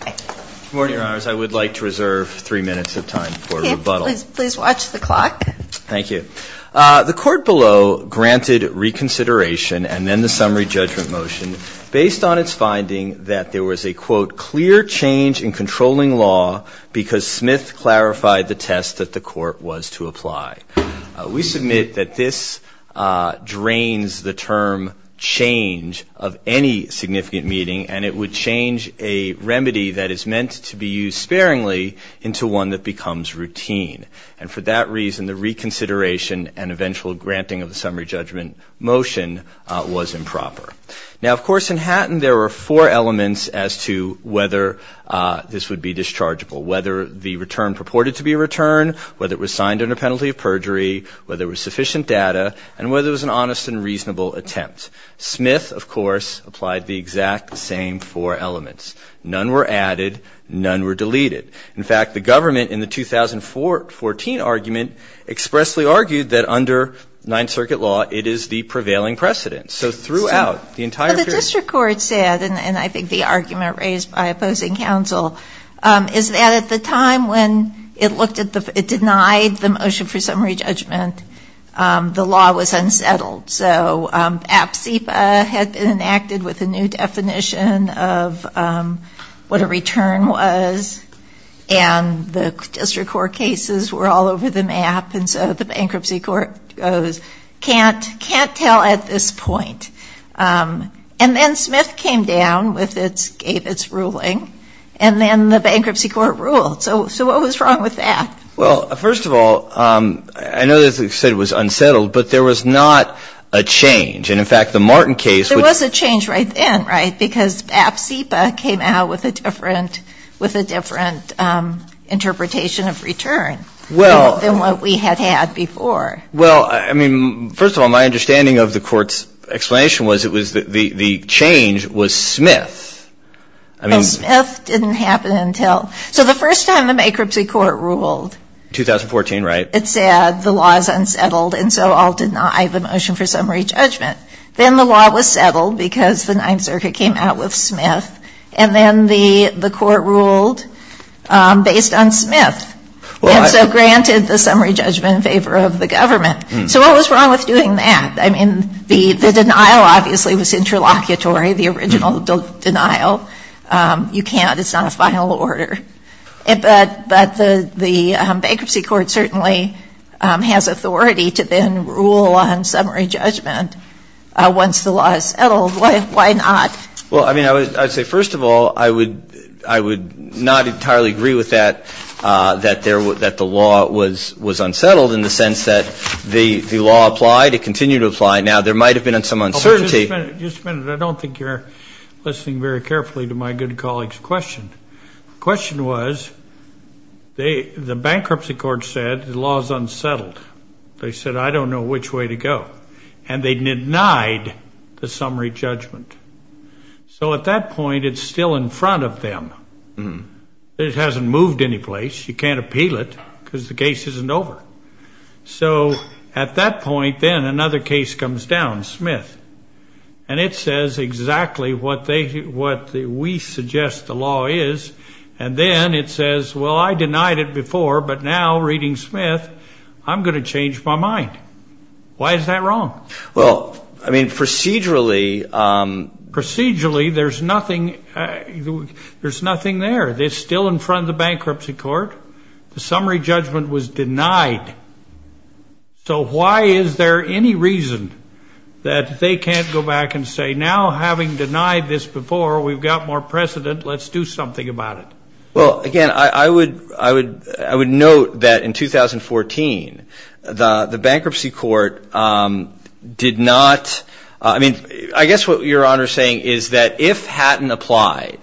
Good morning, Your Honors. I would like to reserve three minutes of time for rebuttal. Please watch the clock. Thank you. The court below granted reconsideration and then the summary judgment motion based on its finding that there was a, quote, clear change in controlling law because Smith clarified the test that the court was to apply. We submit that this drains the term change of any significant meeting and it would change a remedy that is meant to be used sparingly into one that becomes routine. And for that reason, the reconsideration and eventual granting of the summary judgment motion was improper. Now, of course, in Hatton there were four elements as to whether this would be dischargeable, whether the return purported to be a return, whether it was signed under penalty of perjury, whether it was sufficient data, and whether it was an honest and reasonable attempt. Smith, of course, applied the exact same four elements. None were added. None were deleted. In fact, the government in the 2014 argument expressly argued that under Ninth Circuit law, it is the prevailing precedent. So throughout the entire period. The district court said, and I think the argument raised by opposing counsel, is that at the time when it looked at the, it denied the motion for summary judgment, the law was unsettled. So APSIPA had been enacted with a new definition of what a return was. And the district court cases were all over the map. And so the bankruptcy court goes, can't tell at this point. And then Smith came down with its ruling. And then the bankruptcy court ruled. So what was wrong with that? Well, first of all, I know you said it was unsettled. But there was not a change. And in fact, the Martin case. There was a change right then, right? Because APSIPA came out with a different interpretation of return than what we had had before. Well, I mean, first of all, my understanding of the court's explanation was it was the change was Smith. Well, Smith didn't happen until. So the first time the bankruptcy court ruled. 2014, right? It said the law is unsettled, and so I'll deny the motion for summary judgment. Then the law was settled because the Ninth Circuit came out with Smith. And then the court ruled based on Smith. And so granted the summary judgment in favor of the government. So what was wrong with doing that? I mean, the denial obviously was interlocutory, the original denial. You can't. It's not a final order. But the bankruptcy court certainly has authority to then rule on summary judgment once the law is settled. Why not? Well, I mean, I would say first of all, I would not entirely agree with that, that the law was unsettled in the sense that the law applied. It continued to apply. Now, there might have been some uncertainty. Just a minute. I don't think you're listening very carefully to my good colleague's question. The question was the bankruptcy court said the law is unsettled. They said, I don't know which way to go. And they denied the summary judgment. So at that point, it's still in front of them. It hasn't moved any place. You can't appeal it because the case isn't over. So at that point, then another case comes down, Smith. And it says exactly what we suggest the law is. And then it says, well, I denied it before. But now, reading Smith, I'm going to change my mind. Why is that wrong? Well, I mean, procedurally. Procedurally, there's nothing there. It's still in front of the bankruptcy court. The summary judgment was denied. So why is there any reason that they can't go back and say, now, having denied this before, we've got more precedent, let's do something about it? Well, again, I would note that in 2014, the bankruptcy court did not, I mean, I guess what Your Honor is saying is that if Hatton applied,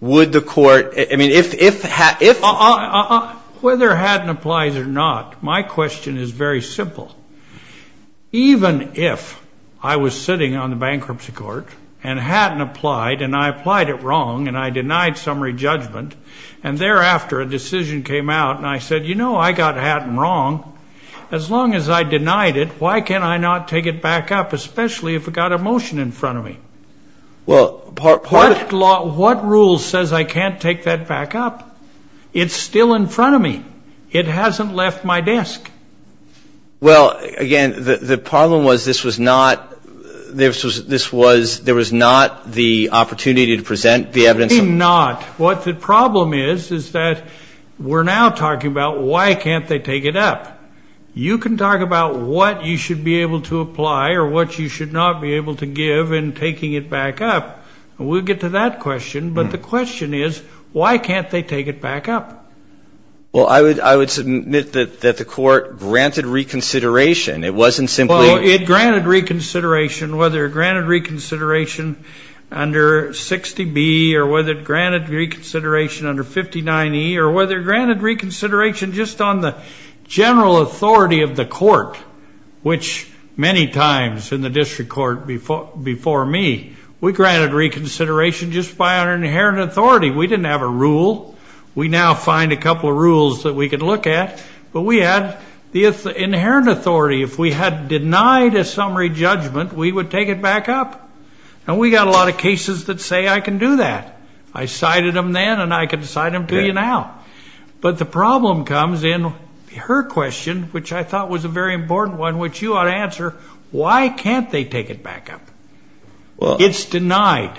would the court, I mean, if Hatton Well, whether Hatton applies or not, my question is very simple. Even if I was sitting on the bankruptcy court and Hatton applied and I applied it wrong and I denied summary judgment and thereafter a decision came out and I said, you know, I got Hatton wrong. As long as I denied it, why can I not take it back up, especially if I've got a motion in front of me? Well, part of it. What rule says I can't take that back up? It's still in front of me. It hasn't left my desk. Well, again, the problem was this was not, this was, there was not the opportunity to present the evidence. I think not. What the problem is is that we're now talking about why can't they take it up. You can talk about what you should be able to apply or what you should not be able to give in taking it back up. And we'll get to that question. But the question is why can't they take it back up? Well, I would submit that the court granted reconsideration. It wasn't simply. Well, it granted reconsideration, whether it granted reconsideration under 60B or whether it granted reconsideration under 59E or whether it granted reconsideration just on the general authority of the court, which many times in the district court before me, we granted reconsideration just by our inherent authority. We didn't have a rule. We now find a couple of rules that we can look at. But we had the inherent authority. If we had denied a summary judgment, we would take it back up. And we got a lot of cases that say I can do that. I cited them then and I can cite them to you now. But the problem comes in her question, which I thought was a very important one, which you ought to answer, why can't they take it back up? It's denied.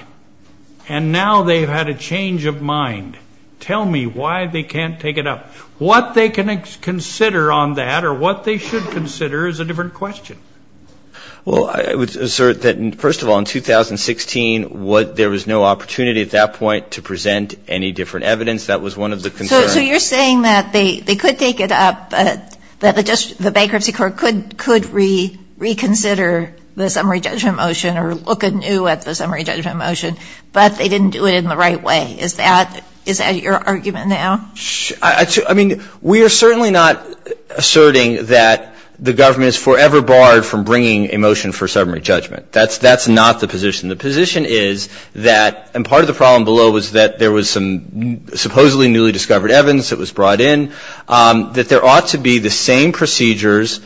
And now they've had a change of mind. Tell me why they can't take it up. What they can consider on that or what they should consider is a different question. Well, I would assert that, first of all, in 2016, there was no opportunity at that point to present any different evidence. That was one of the concerns. So you're saying that they could take it up, that the bankruptcy court could reconsider the summary judgment motion or look anew at the summary judgment motion, but they didn't do it in the right way. Is that your argument now? I mean, we are certainly not asserting that the government is forever barred from bringing a motion for summary judgment. That's not the position. The position is that, and part of the problem below was that there was some supposedly newly discovered evidence that was brought in, that there ought to be the same procedures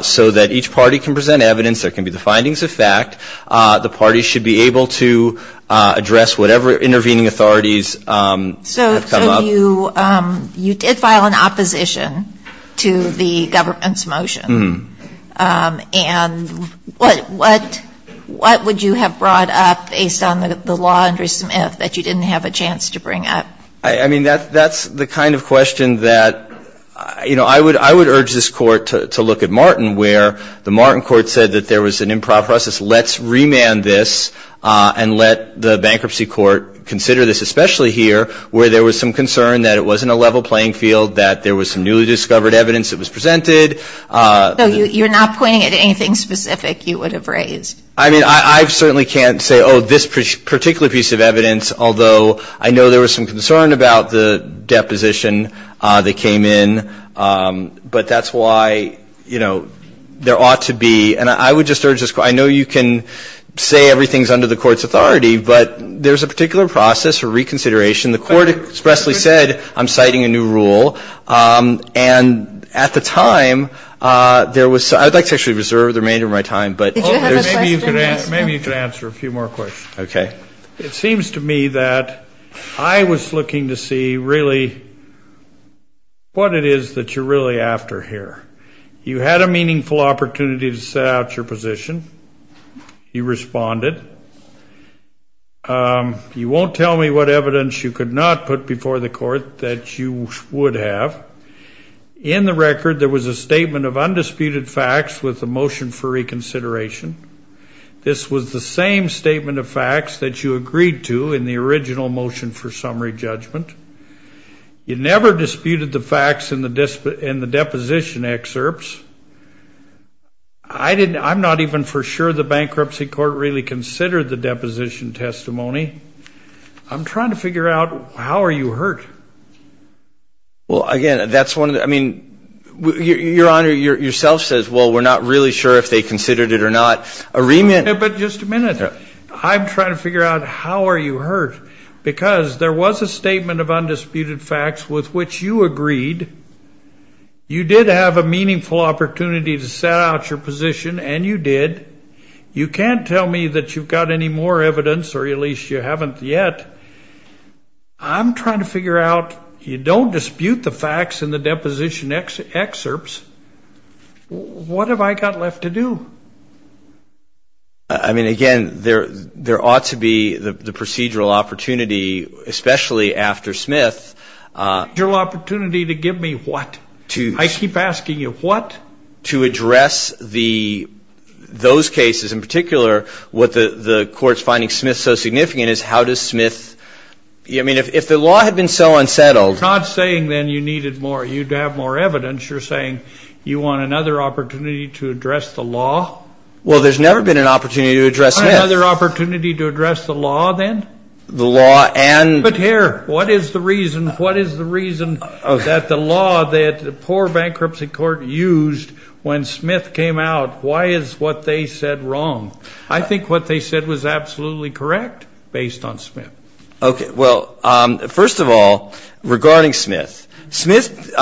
so that each party can present evidence. There can be the findings of fact. The party should be able to address whatever intervening authorities have come up. You did file an opposition to the government's motion. And what would you have brought up based on the law under Smith that you didn't have a chance to bring up? I mean, that's the kind of question that, you know, I would urge this court to look at Martin, where the Martin court said that there was an improper process. Let's remand this and let the bankruptcy court consider this, especially here where there was some concern that it wasn't a level playing field, that there was some newly discovered evidence that was presented. So you're not pointing at anything specific you would have raised? I mean, I certainly can't say, oh, this particular piece of evidence, although I know there was some concern about the deposition that came in. But that's why, you know, there ought to be, and I would just urge this court, I know you can say everything is under the court's authority, but there's a particular process for reconsideration. The court expressly said, I'm citing a new rule. And at the time, there was, I would like to actually reserve the remainder of my time. Maybe you could answer a few more questions. Okay. It seems to me that I was looking to see really what it is that you're really after here. You had a meaningful opportunity to set out your position. You responded. You won't tell me what evidence you could not put before the court that you would have. In the record, there was a statement of undisputed facts with a motion for reconsideration. This was the same statement of facts that you agreed to in the original motion for summary judgment. You never disputed the facts in the deposition excerpts. I'm not even for sure the bankruptcy court really considered the deposition testimony. I'm trying to figure out how are you hurt. Well, again, that's one of the, I mean, Your Honor, yourself says, well, we're not really sure if they considered it or not. But just a minute. I'm trying to figure out how are you hurt. Because there was a statement of undisputed facts with which you agreed. You did have a meaningful opportunity to set out your position, and you did. You can't tell me that you've got any more evidence, or at least you haven't yet. I'm trying to figure out, you don't dispute the facts in the deposition excerpts. What have I got left to do? I mean, again, there ought to be the procedural opportunity, especially after Smith. Procedural opportunity to give me what? I keep asking you, what? To address those cases. In particular, what the court's finding Smith so significant is how does Smith, I mean, if the law had been so unsettled. You're not saying then you needed more, you'd have more evidence. You're saying you want another opportunity to address the law? Well, there's never been an opportunity to address Smith. Another opportunity to address the law then? The law and? But here, what is the reason that the law that the poor bankruptcy court used when Smith came out, why is what they said wrong? I think what they said was absolutely correct based on Smith. Okay, well, first of all, regarding Smith. Smith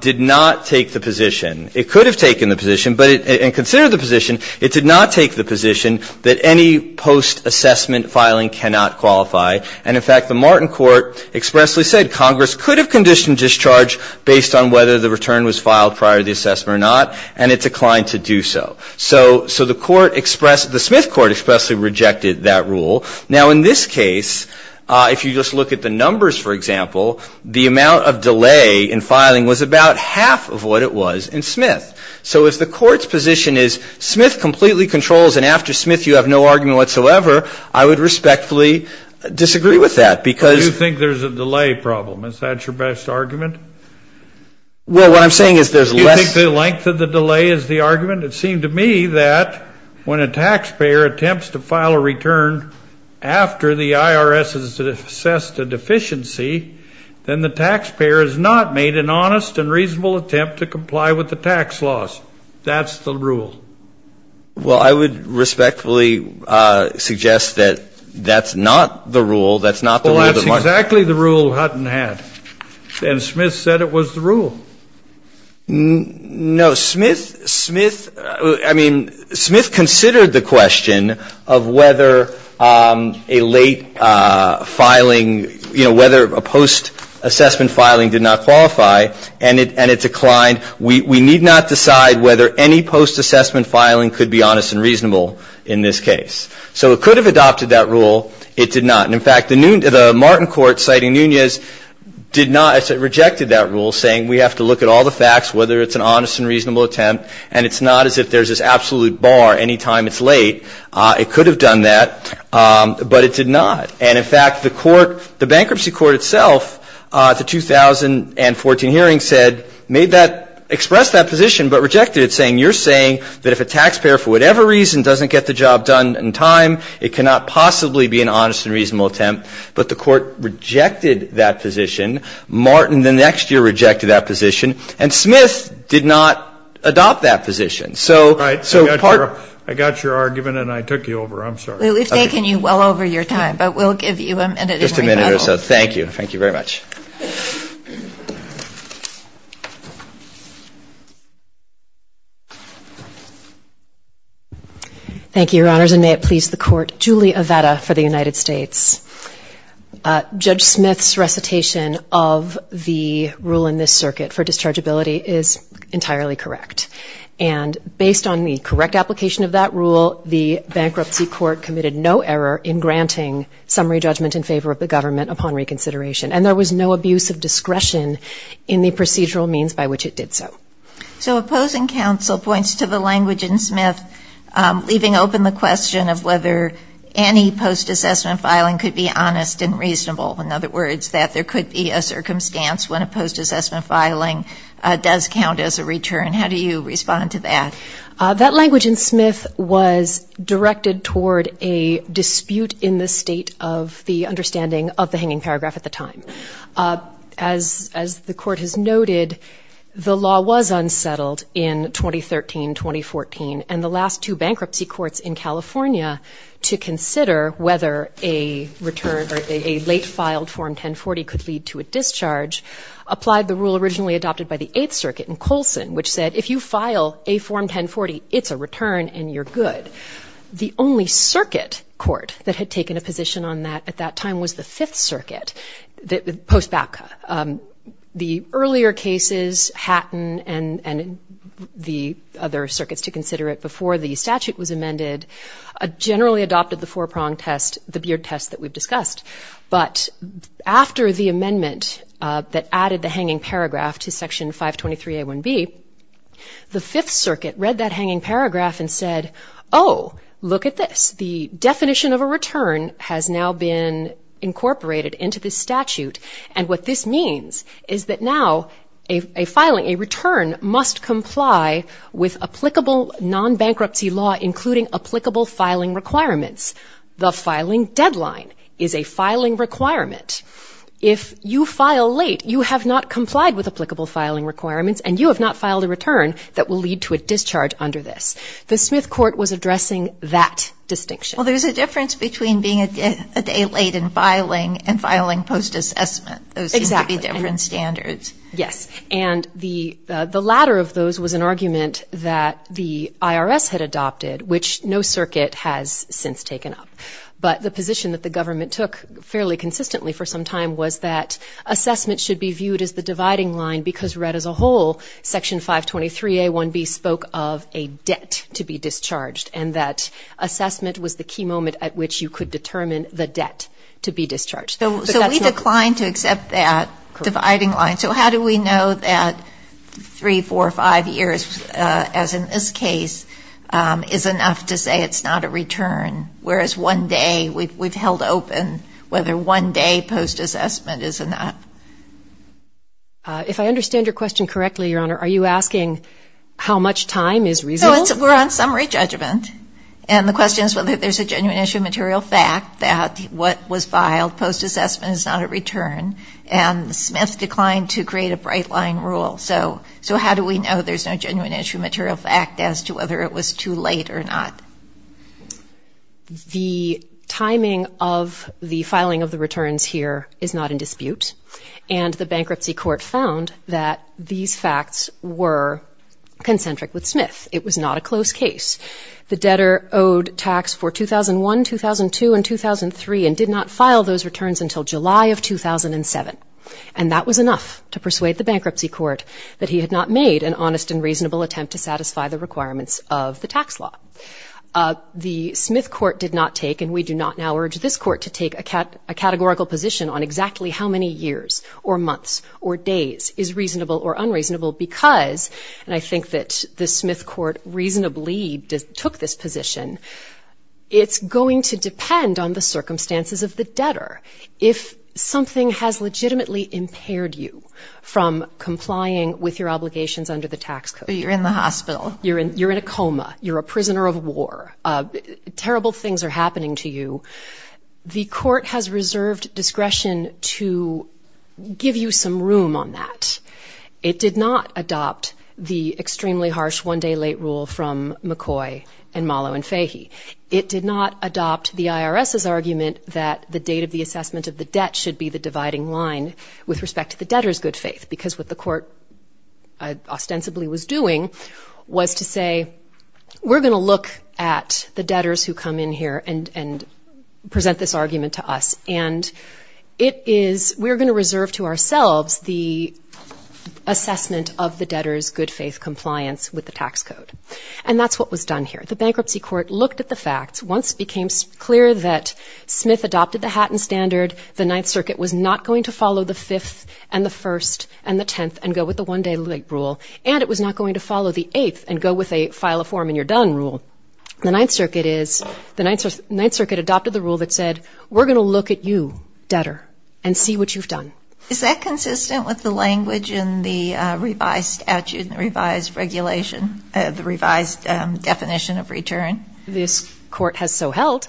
did not take the position. It could have taken the position, and considered the position, it did not take the position that any post-assessment filing cannot qualify. And, in fact, the Martin court expressly said Congress could have conditioned discharge based on whether the return was filed prior to the assessment or not, and it declined to do so. So the court expressed, the Smith court expressly rejected that rule. Now, in this case, if you just look at the numbers, for example, the amount of delay in filing was about half of what it was in Smith. So if the court's position is Smith completely controls, and after Smith you have no argument whatsoever, I would respectfully disagree with that. Do you think there's a delay problem? Is that your best argument? Well, what I'm saying is there's less. Do you think the length of the delay is the argument? It seemed to me that when a taxpayer attempts to file a return after the IRS has assessed a deficiency, then the taxpayer has not made an honest and reasonable attempt to comply with the tax laws. That's the rule. Well, I would respectfully suggest that that's not the rule. That's not the rule. Well, that's exactly the rule Hutton had. And Smith said it was the rule. No, Smith considered the question of whether a late filing, whether a post-assessment filing did not qualify, and it declined. We need not decide whether any post-assessment filing could be honest and reasonable in this case. So it could have adopted that rule. It did not. And, in fact, the Martin Court, citing Nunez, did not, rejected that rule, saying we have to look at all the facts, whether it's an honest and reasonable attempt, and it's not as if there's this absolute bar any time it's late. It could have done that, but it did not. And, in fact, the court, the bankruptcy court itself at the 2014 hearing said, made that, expressed that position but rejected it, saying you're saying that if a taxpayer, for whatever reason, doesn't get the job done in time, it cannot possibly be an honest and reasonable attempt. But the court rejected that position. Martin, the next year, rejected that position. And Smith did not adopt that position. So part of the... All right. I got your argument, and I took you over. I'm sorry. We've taken you well over your time, but we'll give you a minute in rebuttal. Just a minute or so. Thank you. Thank you very much. Thank you, Your Honors, and may it please the court. Julie Avetta for the United States. Judge Smith's recitation of the rule in this circuit for dischargeability is entirely correct. And based on the correct application of that rule, the bankruptcy court committed no error in granting summary judgment in favor of the government upon reconsideration. And there was no abuse of discretion in the procedural means by which it did so. So opposing counsel points to the language in Smith, leaving open the question of whether any post-assessment filing could be honest and reasonable. In other words, that there could be a circumstance when a post-assessment filing does count as a return. How do you respond to that? That language in Smith was directed toward a dispute in the state of the understanding of the hanging paragraph at the time. As the court has noted, the law was unsettled in 2013-2014, and the last two bankruptcy courts in California to consider whether a late-filed Form 1040 could lead to a discharge applied the rule originally adopted by the Eighth Circuit in Colson, which said if you file a Form 1040, it's a return and you're good. The only circuit court that had taken a position on that at that time was the Fifth Circuit, post-BACA. The earlier cases, Hatton and the other circuits to consider it before the statute was amended, generally adopted the four-prong test, the Beard test that we've discussed. But after the amendment that added the hanging paragraph to Section 523A1B, the Fifth Circuit read that hanging paragraph and said, oh, look at this. The definition of a return has now been incorporated into this statute, and what this means is that now a filing, a return must comply with applicable non-bankruptcy law, including applicable filing requirements. The filing deadline is a filing requirement. If you file late, you have not complied with applicable filing requirements and you have not filed a return that will lead to a discharge under this. The Smith court was addressing that distinction. Well, there's a difference between being a day late in filing and filing post-assessment. Exactly. Those seem to be different standards. Yes. And the latter of those was an argument that the IRS had adopted, which no circuit has since taken up. But the position that the government took fairly consistently for some time was that assessment should be viewed as the dividing line because read as a whole, Section 523A1B spoke of a debt to be discharged and that assessment was the key moment at which you could determine the debt to be discharged. So we declined to accept that dividing line. So how do we know that three, four, five years, as in this case, is enough to say it's not a return, whereas one day we've held open whether one day post-assessment is enough? If I understand your question correctly, Your Honor, are you asking how much time is reserved? No, we're on summary judgment. And the question is whether there's a genuine issue of material fact that what was filed post-assessment is not a return. And Smith declined to create a bright-line rule. So how do we know there's no genuine issue of material fact as to whether it was too late or not? The timing of the filing of the returns here is not in dispute. And the bankruptcy court found that these facts were concentric with Smith. It was not a close case. The debtor owed tax for 2001, 2002, and 2003 and did not file those returns until July of 2007. And that was enough to persuade the bankruptcy court that he had not made an honest and reasonable attempt to satisfy the requirements of the tax law. The Smith court did not take, and we do not now urge this court to take a categorical position on exactly how many years or months or days is reasonable or unreasonable because, and I think that the Smith court reasonably took this position, it's going to depend on the circumstances of the debtor. If something has legitimately impaired you from complying with your obligations under the tax code. You're in the hospital. You're in a coma. You're a prisoner of war. Terrible things are happening to you. The court has reserved discretion to give you some room on that. It did not adopt the extremely harsh one-day late rule from McCoy and Mollo and Fahy. It did not adopt the IRS's argument that the date of the assessment of the debt should be the dividing line with respect to the debtor's good faith because what the court ostensibly was doing was to say, we're going to look at the debtors who come in here and present this argument to us. And it is, we're going to reserve to ourselves the assessment of the debtor's good faith compliance with the tax code. And that's what was done here. The bankruptcy court looked at the facts. Once it became clear that Smith adopted the Hatton Standard, the Ninth Circuit was not going to follow the Fifth and the First and the Tenth and go with the one-day late rule, and it was not going to follow the Eighth and go with a file a form and you're done rule. The Ninth Circuit is, the Ninth Circuit adopted the rule that said, we're going to look at you, debtor, and see what you've done. Is that consistent with the language in the revised statute and the revised regulation, the revised definition of return? This court has so held.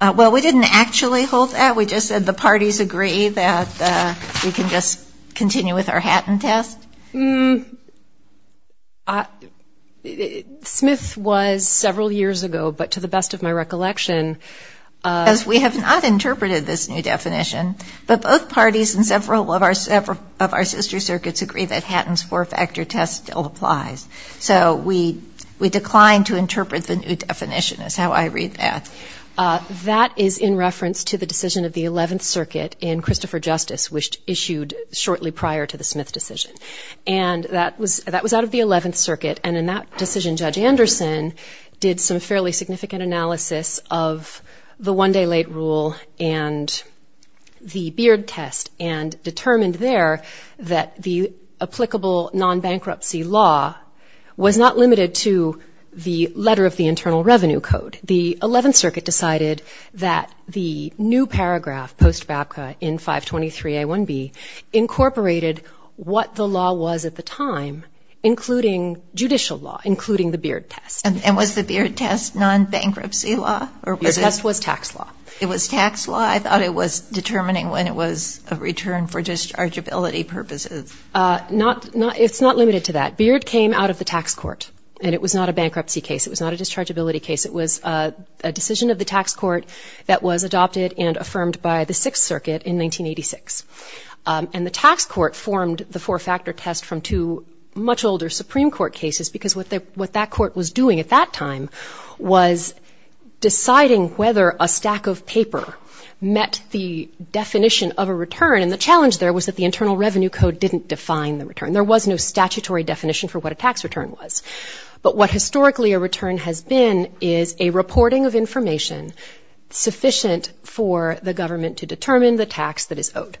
Well, we didn't actually hold that. We just said the parties agree that we can just continue with our Hatton test. Smith was several years ago, but to the best of my recollection. As we have not interpreted this new definition, but both parties in several of our sister circuits agree that Hatton's four-factor test still applies. So we declined to interpret the new definition is how I read that. That is in reference to the decision of the Eleventh Circuit in Christopher Justice, which issued shortly prior to the Smith decision. And that was out of the Eleventh Circuit. And in that decision, Judge Anderson did some fairly significant analysis of the one-day late rule and the Beard test and determined there that the applicable non-bankruptcy law was not limited to the letter of the Internal Revenue Code. The Eleventh Circuit decided that the new paragraph post-BABCA in 523A1B incorporated what the law was at the time, including judicial law, including the Beard test. And was the Beard test non-bankruptcy law? The test was tax law. It was tax law? I thought it was determining when it was a return for dischargeability purposes. It's not limited to that. Beard came out of the tax court. And it was not a bankruptcy case. It was not a dischargeability case. It was a decision of the tax court that was adopted and affirmed by the Sixth Circuit in 1986. And the tax court formed the four-factor test from two much older Supreme Court cases, because what that court was doing at that time was deciding whether a stack of paper met the definition of a return. And the challenge there was that the Internal Revenue Code didn't define the return. There was no statutory definition for what a tax return was. But what historically a return has been is a reporting of information sufficient for the government to determine the tax that is owed.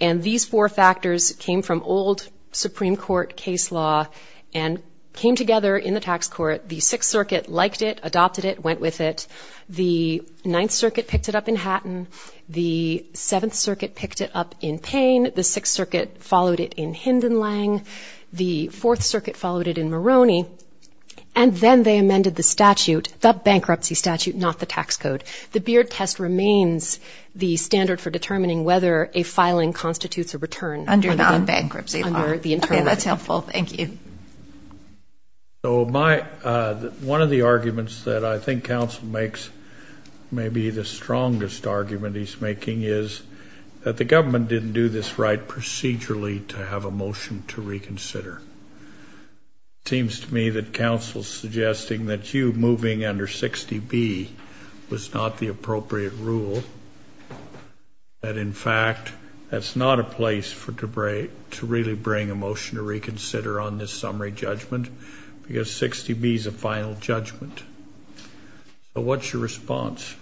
And these four factors came from old Supreme Court case law and came together in the tax court. The Sixth Circuit liked it, adopted it, went with it. The Ninth Circuit picked it up in Hatton. The Seventh Circuit picked it up in Payne. The Sixth Circuit followed it in Hindenlang. The Fourth Circuit followed it in Maroney. And then they amended the statute, the bankruptcy statute, not the tax code. The Beard test remains the standard for determining whether a filing constitutes a return under the bankruptcy law. Okay, that's helpful. Thank you. So my one of the arguments that I think counsel makes may be the strongest argument he's making is that the government didn't do this right procedurally to have a motion to reconsider. It seems to me that counsel's suggesting that you moving under 60B was not the appropriate rule, that in fact that's not a place to really bring a motion to reconsider on this summary judgment because 60B is a final judgment. So what's your response?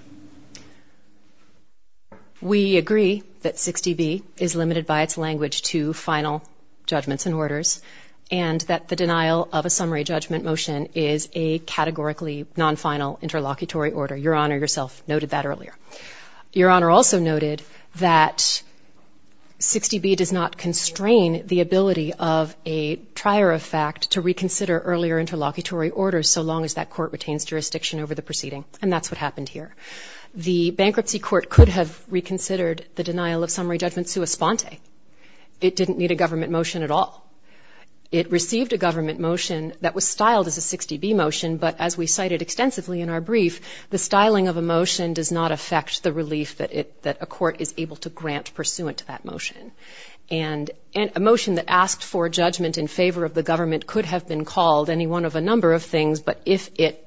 We agree that 60B is limited by its language to final judgments and orders and that the denial of a summary judgment motion is a categorically non-final interlocutory order. Your Honor yourself noted that earlier. Your Honor also noted that 60B does not constrain the ability of a trier of fact to reconsider earlier interlocutory orders so long as that court retains jurisdiction over the proceeding, and that's what happened here. The bankruptcy court could have reconsidered the denial of summary judgment sua sponte. It didn't need a government motion at all. It received a government motion that was styled as a 60B motion, but as we cited extensively in our brief, the styling of a motion does not affect the relief that a court is able to grant pursuant to that motion. And a motion that asked for judgment in favor of the government could have been called any one of a number of things, but if it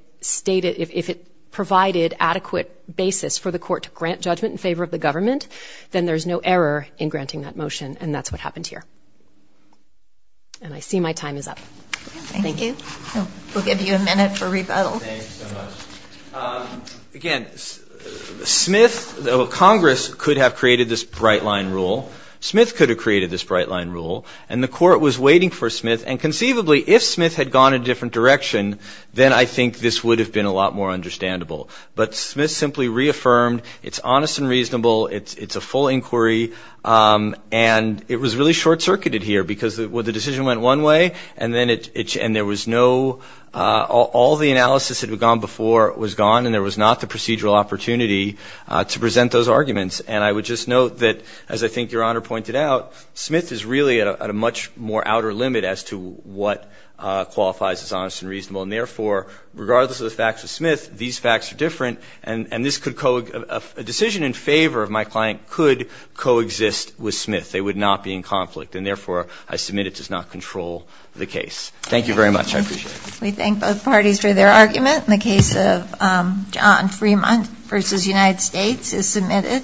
provided adequate basis for the court to grant judgment in favor of the government, then there's no error in granting that motion, and that's what happened here. And I see my time is up. Thank you. We'll give you a minute for rebuttal. Thanks so much. Again, Smith, though Congress could have created this bright-line rule, Smith could have created this bright-line rule, and the court was waiting for Smith, and conceivably if Smith had gone a different direction, then I think this would have been a lot more understandable. But Smith simply reaffirmed it's honest and reasonable, it's a full inquiry, and it was really short-circuited here because the decision went one way, and then it changed. There was no ñ all the analysis that had gone before was gone, and there was not the procedural opportunity to present those arguments. And I would just note that, as I think Your Honor pointed out, Smith is really at a much more outer limit as to what qualifies as honest and reasonable. And, therefore, regardless of the facts of Smith, these facts are different, and this could ñ a decision in favor of my client could coexist with Smith. They would not be in conflict, and, therefore, I submit it does not control the case. Thank you very much. I appreciate it. We thank both parties for their argument. And the case of John Fremont v. United States is submitted.